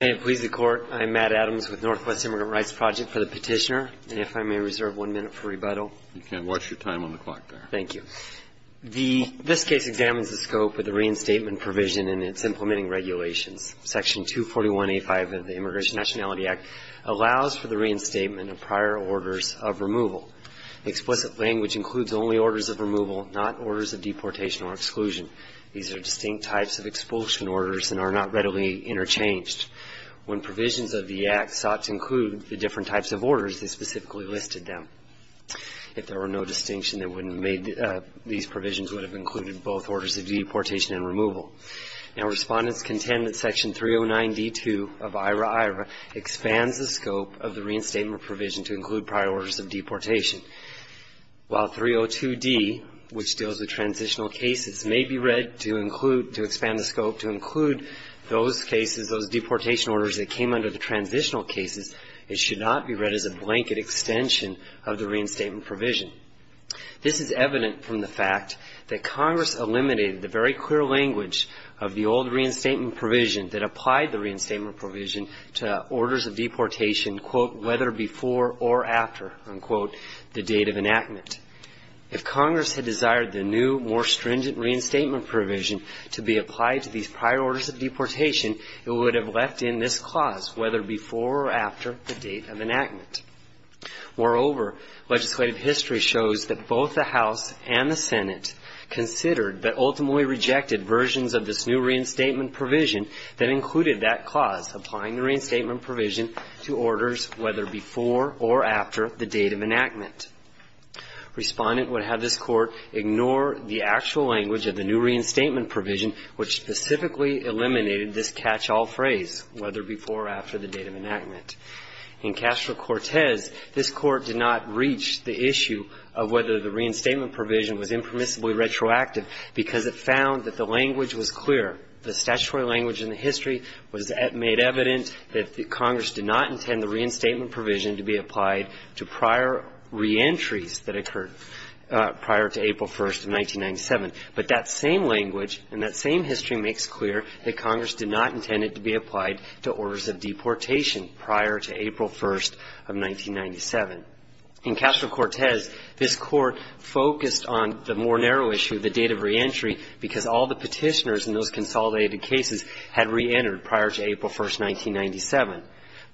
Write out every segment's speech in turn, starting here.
May it please the Court, I'm Matt Adams with Northwest Immigrant Rights Project for the Petitioner. And if I may reserve one minute for rebuttal. You can. Watch your time on the clock there. Thank you. This case examines the scope of the reinstatement provision and its implementing regulations. Section 241A5 of the Immigration Nationality Act allows for the reinstatement of prior orders of removal. Explicit language includes only orders of removal, not orders of deportation or exclusion. These are distinct types of expulsion orders and are not readily interchanged. When provisions of the Act sought to include the different types of orders, they specifically listed them. If there were no distinction, these provisions would have included both orders of deportation and removal. Now, Respondents contend that Section 309D2 of IRA-IRA expands the scope of the reinstatement provision to include prior orders of deportation. While 302D, which deals with transitional cases, may be read to include, to expand the scope, to include those cases, those deportation orders that came under the transitional cases, it should not be read as a blanket extension of the reinstatement provision. This is evident from the fact that Congress eliminated the very clear language of the old reinstatement provision that applied the reinstatement provision to orders of deportation, quote, whether before or after, unquote, the date of enactment. If Congress had desired the new, more stringent reinstatement provision to be applied to these prior orders of deportation, it would have left in this clause whether before or after the date of enactment. Moreover, legislative history shows that both the House and the Senate considered but ultimately rejected versions of this new reinstatement provision that included that clause, applying the reinstatement provision to orders whether before or after the date of enactment. Respondent would have this Court ignore the actual language of the new reinstatement provision, which specifically eliminated this catch-all phrase, whether before or after the date of enactment. In Castro-Cortez, this Court did not reach the issue of whether the reinstatement provision was impermissibly retroactive because it found that the language was clear. The statutory language in the history was made evident that Congress did not intend the reinstatement provision to be applied to prior reentries that occurred prior to April 1st of 1997. But that same language and that same history makes clear that Congress did not intend it to be applied to orders of deportation prior to April 1st of 1997. In Castro-Cortez, this Court focused on the more narrow issue, the date of reentry, because all the Petitioners in those consolidated cases had reentered prior to April 1st, 1997.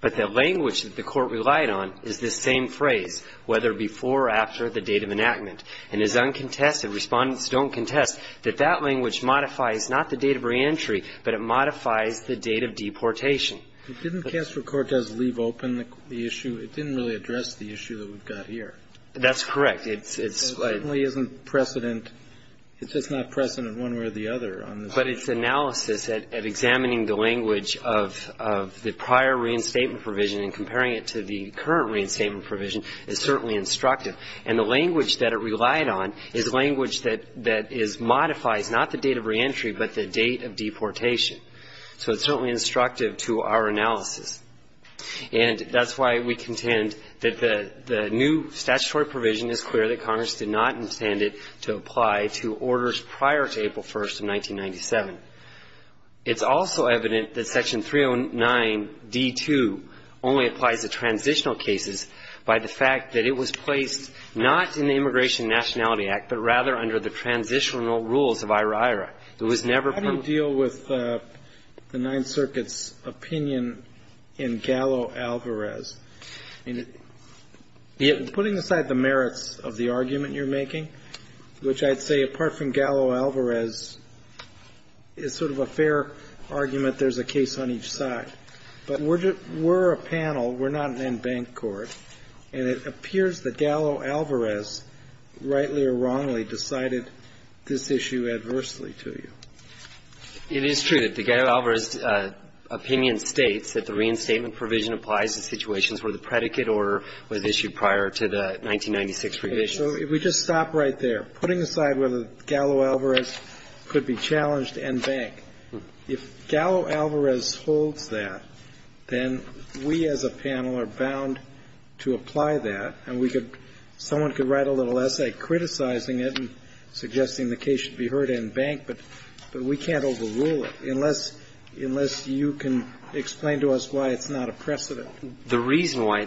But the language that the Court relied on is this same phrase, whether before or after the date of enactment, and it is uncontested, Respondents don't contest, that that language modifies not the date of reentry, but it modifies the date of deportation. Kennedy. Didn't Castro-Cortez leave open the issue? It didn't really address the issue that we've got here. That's correct. It certainly isn't precedent. It's just not precedent one way or the other. But its analysis at examining the language of the prior reinstatement provision and comparing it to the current reinstatement provision is certainly instructive. And the language that it relied on is language that is modified, not the date of reentry, but the date of deportation. So it's certainly instructive to our analysis. And that's why we contend that the new statutory provision is clear that Congress did not intend it to apply to orders prior to April 1st of 1997. It's also evident that Section 309d-2 only applies to transitional cases by the fact that it was placed not in the Immigration and Nationality Act, but rather under the transitional rules of IHRA-IHRA. How do you deal with the Ninth Circuit's opinion in Gallo-Alvarez? I mean, putting aside the merits of the argument you're making, which I'd say, apart from Gallo-Alvarez, is sort of a fair argument there's a case on each side. But we're a panel. We're not an en banc court. And it appears that Gallo-Alvarez, rightly or wrongly, decided this issue adversely to you. It is true that the Gallo-Alvarez opinion states that the reinstatement provision applies to situations where the predicate order was issued prior to the 1996 revision. So if we just stop right there, putting aside whether Gallo-Alvarez could be challenged en banc, if Gallo-Alvarez holds that, then we as a panel are bound to apply that. And we could – someone could write a little essay criticizing it and suggesting the case should be heard en banc, but we can't overrule it unless you can explain to us why it's not a precedent. The reason why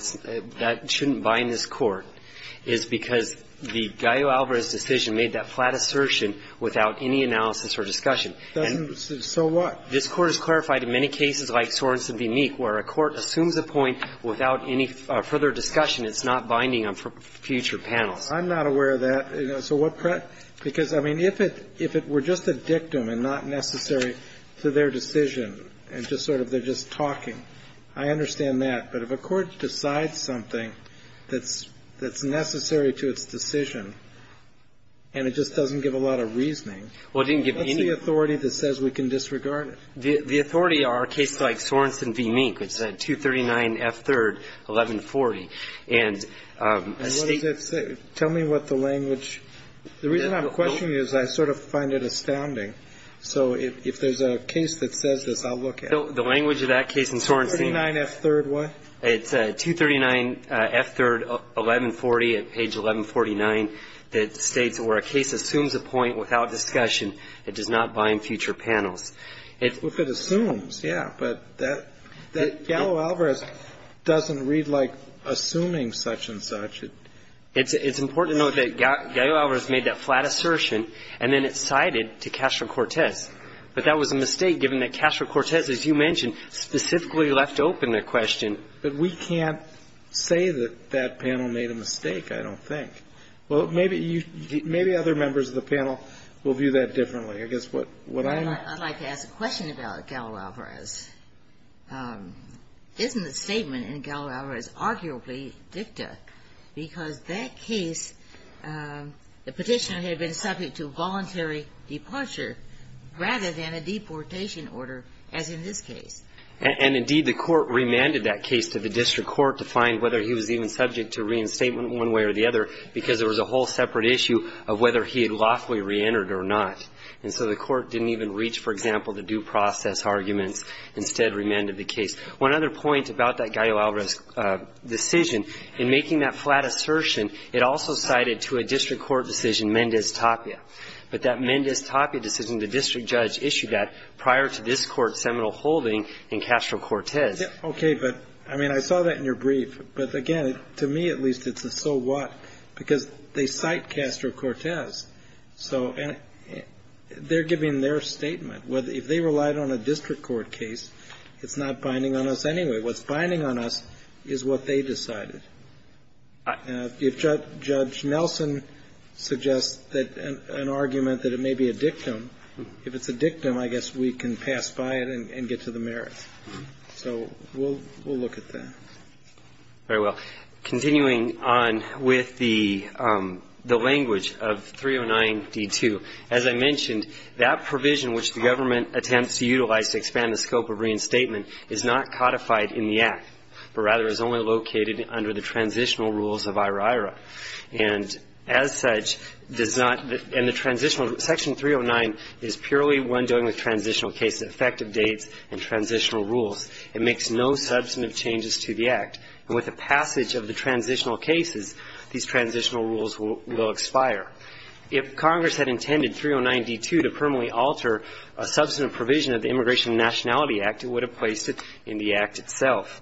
that shouldn't bind this Court is because the Gallo-Alvarez decision made that flat assertion without any analysis or discussion. And so what? This Court has clarified in many cases like Sorenson v. Meek where a court assumes a point without any further discussion. It's not binding on future panels. I'm not aware of that. So what – because, I mean, if it were just a dictum and not necessary to their decision and just sort of they're just talking, I understand that. But if a court decides something that's necessary to its decision and it just doesn't give a lot of reasoning, what's the authority that says we can disregard it? The authority are cases like Sorenson v. Meek, which is at 239 F. 3rd, 1140. And State – And what does that say? Tell me what the language – the reason I'm questioning you is I sort of find it astounding. So if there's a case that says this, I'll look at it. The language of that case in Sorenson – It's 239 F. 3rd, 1140 at page 1149 that states where a case assumes a point without discussion, it does not bind future panels. If it assumes, yeah. But that – that Gallo-Alvarez doesn't read like assuming such and such. It's important to note that Gallo-Alvarez made that flat assertion and then it's cited to Castro-Cortez. But that was a mistake given that Castro-Cortez, as you mentioned, specifically left open a question. But we can't say that that panel made a mistake, I don't think. Well, maybe you – maybe other members of the panel will view that differently. I guess what I'm – I'd like to ask a question about Gallo-Alvarez. Isn't the statement in Gallo-Alvarez arguably dicta? Because that case, the Petitioner had been subject to voluntary departure rather than a deportation order, as in this case. And indeed, the court remanded that case to the district court to find whether he was even subject to reinstatement one way or the other because there was a whole separate issue of whether he had lawfully reentered or not. And so the court didn't even reach, for example, the due process arguments, instead remanded the case. One other point about that Gallo-Alvarez decision, in making that flat assertion, it also cited to a district court decision Mendez-Tapia. But that Mendez-Tapia decision, the district judge issued that prior to this Court's ruling in Castro-Cortez. Okay. But, I mean, I saw that in your brief. But, again, to me at least, it's a so what, because they cite Castro-Cortez. So they're giving their statement. If they relied on a district court case, it's not binding on us anyway. What's binding on us is what they decided. If Judge Nelson suggests an argument that it may be a dictum, if it's a dictum, I guess we can pass by it and get to the merits. So we'll look at that. All right. Well, continuing on with the language of 309d2, as I mentioned, that provision which the government attempts to utilize to expand the scope of reinstatement is not codified in the Act, but rather is only located under the transitional rules of IRA-IRA. And as such, does not, and the transitional, Section 309 is purely one dealing with transitional cases, effective dates, and transitional rules. It makes no substantive changes to the Act. And with the passage of the transitional cases, these transitional rules will expire. If Congress had intended 309d2 to permanently alter a substantive provision of the Immigration and Nationality Act, it would have placed it in the Act itself.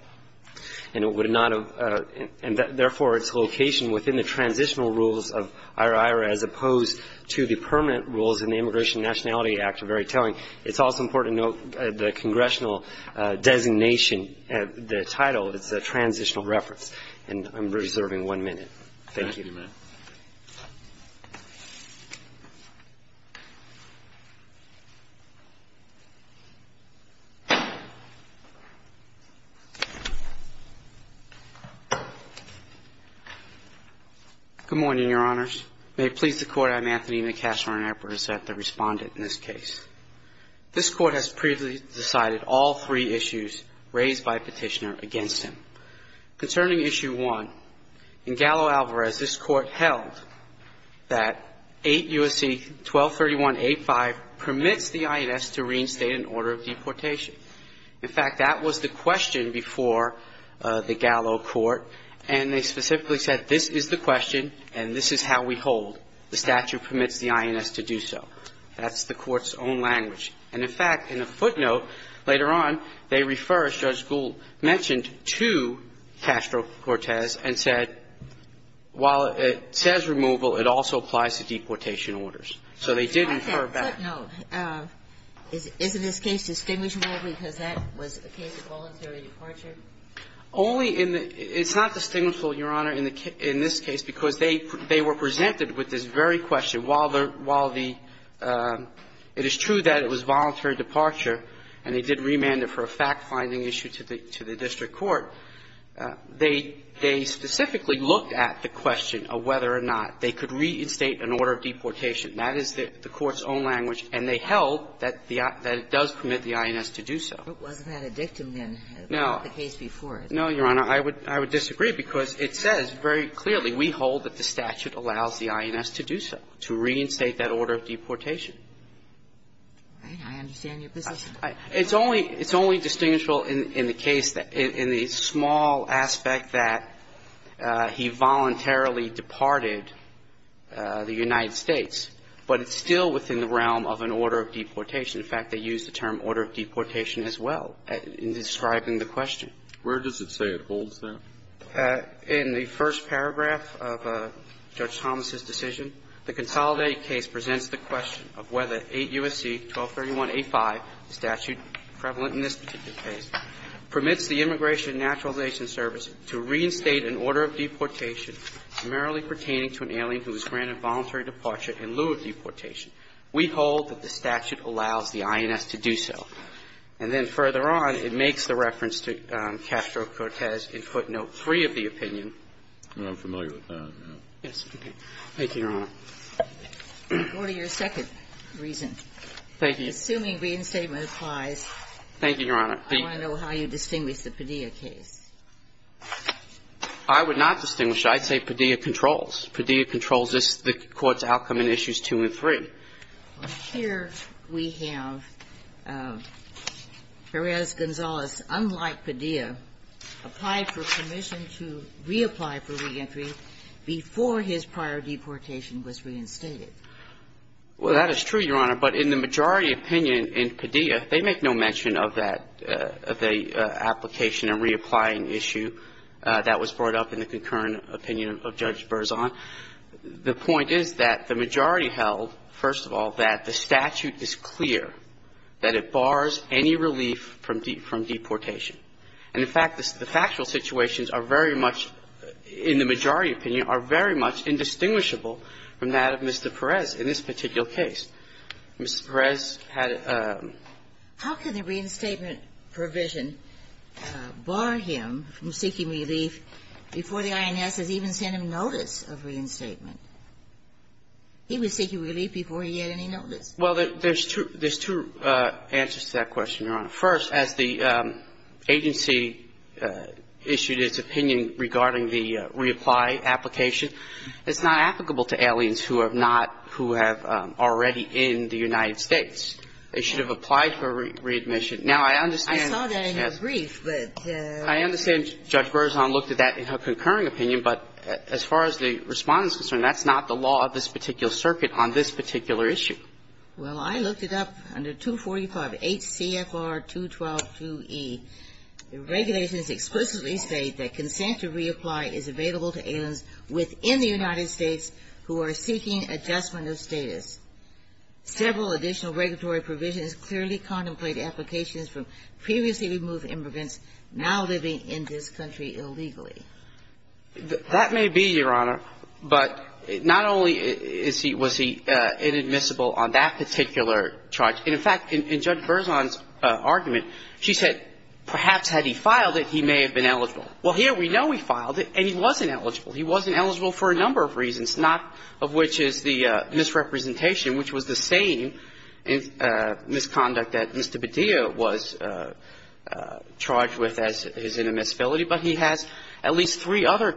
And it would not have, and therefore its location within the transitional rules of IRA-IRA as opposed to the permanent rules in the Immigration and Nationality Act are very telling. It's also important to note the congressional designation, the title, it's a transitional reference. And I'm reserving one minute. Thank you. Thank you, Your Honor. Good morning, Your Honors. May it please the Court, I'm Anthony McCashmore, and I present the Respondent in this case. This Court has previously decided all three issues raised by Petitioner against him. Concerning Issue 1, in Gallo-Alvarez, this Court held that 8 U.S.C. 1231a5 permits the INS to reinstate an order of deportation. In fact, that was the question before the Gallo Court, and they specifically said this is the question and this is how we hold. The statute permits the INS to do so. That's the Court's own language. And, in fact, in a footnote later on, they refer, as Judge Gould mentioned, to Castro-Cortez and said, while it says removal, it also applies to deportation orders. So they did infer back. No. Isn't this case distinguishable because that was a case of voluntary departure? Only in the – it's not distinguishable, Your Honor, in this case because they were presented with this very question while the – while the – it is true that it was a case of voluntary departure, but in the Gallo Court, they specifically looked at the question of whether or not they could reinstate an order of deportation. That is the Court's own language, and they held that it does permit the INS to do so. But wasn't that a dictum, then, about the case before it? No, Your Honor, I would disagree, because it says very clearly we hold that the statute allows the INS to do so, to reinstate that order of deportation. I understand your position. It's only – it's only distinguishable in the case that – in the small aspect that he voluntarily departed the United States, but it's still within the realm of an order of deportation. In fact, they used the term order of deportation as well in describing the question. Where does it say it holds, then? In the first paragraph of Judge Thomas's decision, the consolidated case presents the question of whether 8 U.S.C. 1231.85, the statute prevalent in this particular case, permits the Immigration and Naturalization Service to reinstate an order of deportation primarily pertaining to an alien who was granted voluntary departure in lieu of deportation. We hold that the statute allows the INS to do so. And then further on, it makes the reference to Castro-Cortez in footnote 3 of the opinion. I'm familiar with that. Yes, okay. Thank you, Your Honor. Go to your second reason. Thank you. Assuming reinstatement applies. Thank you, Your Honor. I want to know how you distinguish the Padilla case. I would not distinguish it. I'd say Padilla controls. Padilla controls the Court's outcome in Issues 2 and 3. Here we have Perez-Gonzalez, unlike Padilla, applied for permission to reapply for reentry before his prior deportation was reinstated. Well, that is true, Your Honor. But in the majority opinion in Padilla, they make no mention of that, of the application and reapplying issue that was brought up in the concurrent opinion of Judge Berzon. The point is that the majority held, first of all, that the statute is clear, that it bars any relief from deportation. And in fact, the factual situations are very much, in the majority opinion, are very much indistinguishable from that of Mr. Perez in this particular case. Mr. Perez had a ---- How can the reinstatement provision bar him from seeking relief before the INS has even sent him notice of reinstatement? He was seeking relief before he had any notice. Well, there's two answers to that question, Your Honor. First, as the agency issued its opinion regarding the reapply application, it's not applicable to aliens who have not, who have already in the United States. They should have applied for readmission. Now, I understand ---- I saw that in your brief, but ---- I understand Judge Berzon looked at that in her concurring opinion. But as far as the Respondent is concerned, that's not the law of this particular circuit on this particular issue. Well, I looked it up under 245 H.C.F.R. 212.2e. The regulations explicitly state that consent to reapply is available to aliens within the United States who are seeking adjustment of status. Several additional regulatory provisions clearly contemplate applications from previously removed immigrants now living in this country illegally. That may be, Your Honor. But not only is he ---- was he inadmissible on that particular charge. And, in fact, in Judge Berzon's argument, she said perhaps had he filed it, he may have been eligible. Well, here we know he filed it, and he wasn't eligible. He wasn't eligible for a number of reasons, not of which is the misrepresentation, which was the same misconduct that Mr. Badia was charged with as his inadmissibility, but he has at least three other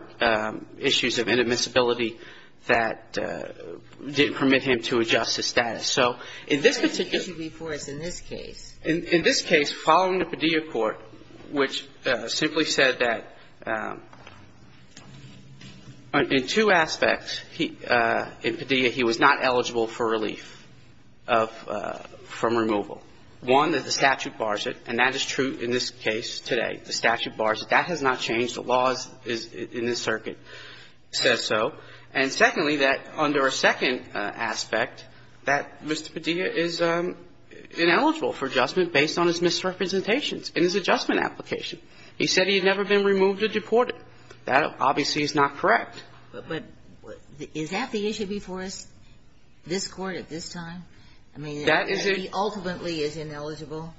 issues of inadmissibility that didn't permit him to adjust his status. So in this particular ---- But there was an issue before us in this case. In this case, following the Badia court, which simply said that in two aspects, in Badia he was not eligible for relief of ---- from removal. One, that the statute bars it, and that is true in this case today. The statute bars it. That has not changed. The law is ---- in this circuit says so. And, secondly, that under a second aspect, that Mr. Badia is ineligible for adjustment based on his misrepresentations in his adjustment application. He said he had never been removed or deported. That obviously is not correct. But is that the issue before us, this Court at this time? I mean, that he ultimately is ineligible?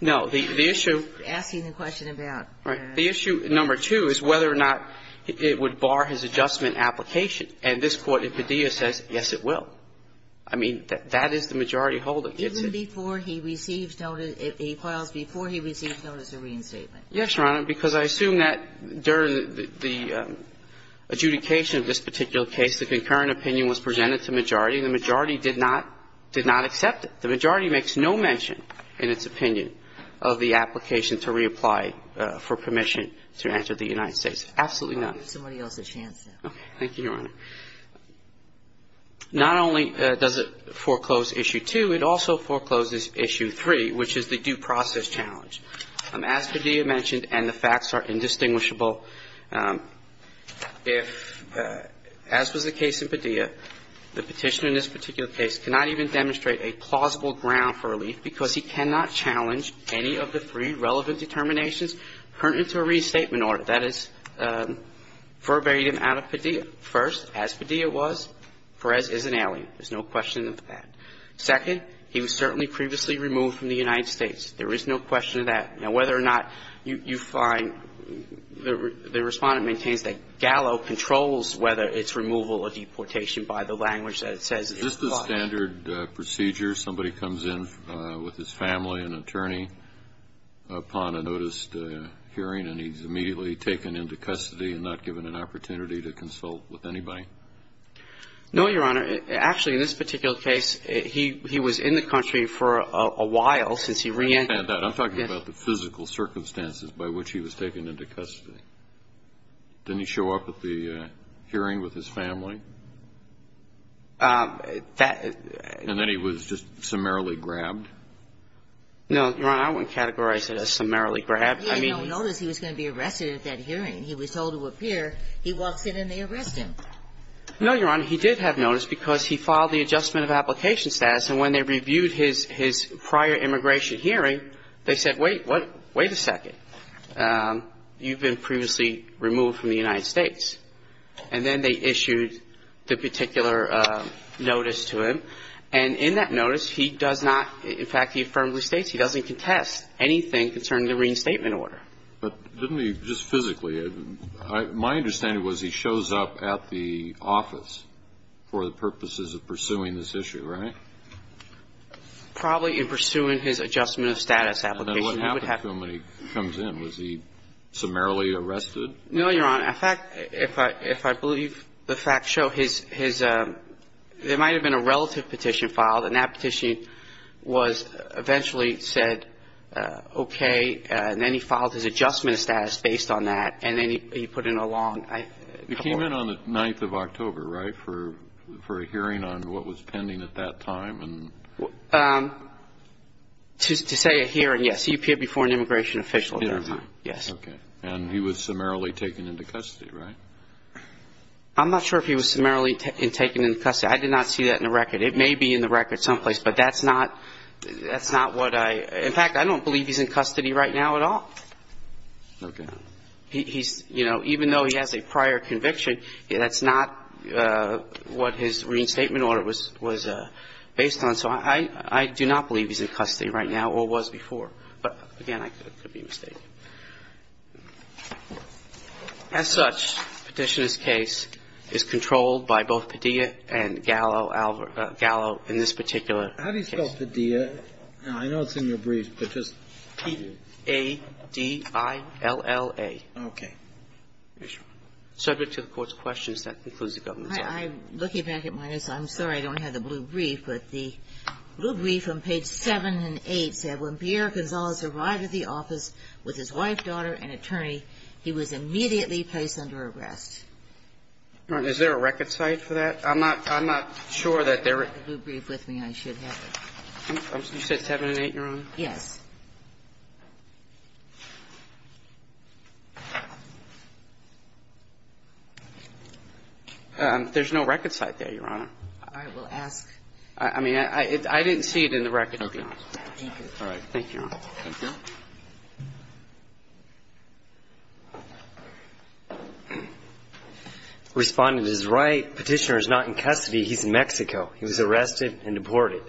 No. The issue ---- You're asking the question about ---- Right. The issue, number two, is whether or not it would bar his adjustment application. And this Court in Badia says, yes, it will. I mean, that is the majority hold that gets it. Even before he receives notice ---- he files before he receives notice of reinstatement. Yes, Your Honor, because I assume that during the adjudication of this particular case, the concurrent opinion was presented to majority, and the majority did not ---- did not accept it. The majority makes no mention in its opinion of the application to reapply for permission to enter the United States. Absolutely none. I'll give somebody else a chance now. Okay. Thank you, Your Honor. Not only does it foreclose issue two, it also forecloses issue three, which is the due process challenge. As Badia mentioned, and the facts are indistinguishable, if, as was the case in Badia, the Petitioner in this particular case cannot even demonstrate a plausible ground for relief because he cannot challenge any of the three relevant determinations pertinent to a reinstatement order. That is verbatim out of Badia. First, as Badia was, Perez is an ally. There's no question of that. Second, he was certainly previously removed from the United States. There is no question of that. Now, whether or not you find the Respondent maintains that Gallo controls whether it's removal or deportation by the language that it says is required. Is this the standard procedure? Somebody comes in with his family, an attorney, upon a noticed hearing, and he's immediately taken into custody and not given an opportunity to consult with anybody? No, Your Honor. Actually, in this particular case, he was in the country for a while since he reentered. I understand that. I'm talking about the physical circumstances by which he was taken into custody. Didn't he show up at the hearing with his family? That was just summarily grabbed. No, Your Honor. I wouldn't categorize it as summarily grabbed. He had no notice he was going to be arrested at that hearing. He was told to appear. He walks in and they arrest him. No, Your Honor. He did have notice because he filed the adjustment of application status. And when they reviewed his prior immigration hearing, they said, wait, what? Wait a second. You've been previously removed from the United States. And then they issued the particular notice to him. And in that notice, he does not, in fact, he firmly states he doesn't contest anything concerning the reinstatement order. But didn't he just physically? My understanding was he shows up at the office for the purposes of pursuing this issue, right? Probably in pursuing his adjustment of status application. What happened to him when he comes in? Was he summarily arrested? No, Your Honor. In fact, if I believe the facts show, there might have been a relative petition filed. And that petition was eventually said okay. And then he filed his adjustment of status based on that. And then he put in a long. He came in on the 9th of October, right, for a hearing on what was pending at that time? To say a hearing, yes. He appeared before an immigration official at that time. Yes. Okay. And he was summarily taken into custody, right? I'm not sure if he was summarily taken into custody. I did not see that in the record. It may be in the record someplace. But that's not what I, in fact, I don't believe he's in custody right now at all. Okay. He's, you know, even though he has a prior conviction, that's not what his reinstatement order was based on. So I do not believe he's in custody right now or was before. But, again, it could be a mistake. As such, Petitioner's case is controlled by both Padilla and Gallo in this particular case. How do you spell Padilla? I know it's in your brief, but just. P-A-D-I-L-L-A. Subject to the Court's questions. That concludes the government's hearing. I'm looking back at my notes. I'm sorry I don't have the blue brief. But the blue brief on page 7 and 8 said, When Pierre Gonzales arrived at the office with his wife, daughter, and attorney, he was immediately placed under arrest. Is there a record site for that? I'm not sure that there is. I have the blue brief with me. I should have it. You said 7 and 8, Your Honor? Yes. There's no record site there, Your Honor. All right. Well, ask. I mean, I didn't see it in the record. Okay. Thank you. All right. Thank you, Your Honor. Thank you. Respondent is right. Petitioner is not in custody. He's in Mexico. He was arrested and deported.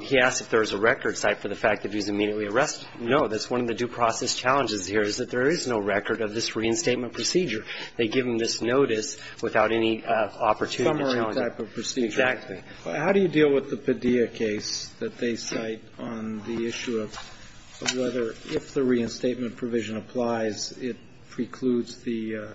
He asked if there was a record site for the fact that he was in Mexico. No. That's one of the due process challenges here is that there is no record of this reinstatement procedure. They give him this notice without any opportunity to challenge it. Summary type of procedure. Exactly. How do you deal with the Padilla case that they cite on the issue of whether if the reinstatement provision applies, it precludes the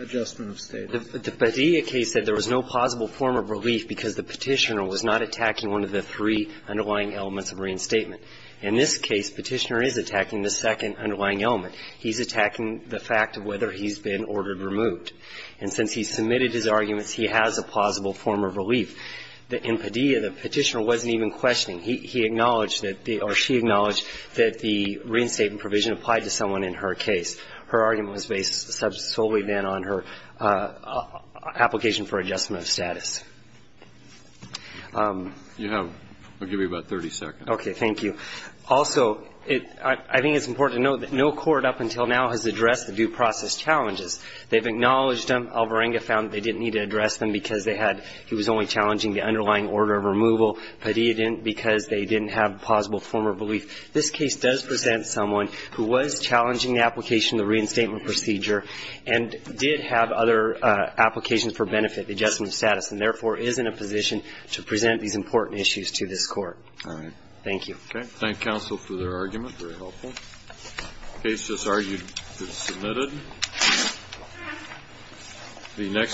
adjustment of statehood? The Padilla case said there was no plausible form of relief because the petitioner was not attacking one of the three underlying elements of reinstatement. In this case, petitioner is attacking the second underlying element. He's attacking the fact of whether he's been ordered removed. And since he submitted his arguments, he has a plausible form of relief. In Padilla, the petitioner wasn't even questioning. He acknowledged that the or she acknowledged that the reinstatement provision applied to someone in her case. Her argument was based solely then on her application for adjustment of status. You have, I'll give you about 30 seconds. Okay, thank you. Also, I think it's important to note that no court up until now has addressed the due process challenges. They've acknowledged them. Alvarenga found they didn't need to address them because they had he was only challenging the underlying order of removal. Padilla didn't because they didn't have plausible form of relief. This case does present someone who was challenging the application of the reinstatement procedure and did have other applications for benefit, adjustment of status, and therefore is in a position to present these important issues to this Court. All right. Thank you. Okay. Thank you again. Thank you, counsel, for their argument. It was very helpful. The case is argued to be submitted. The next.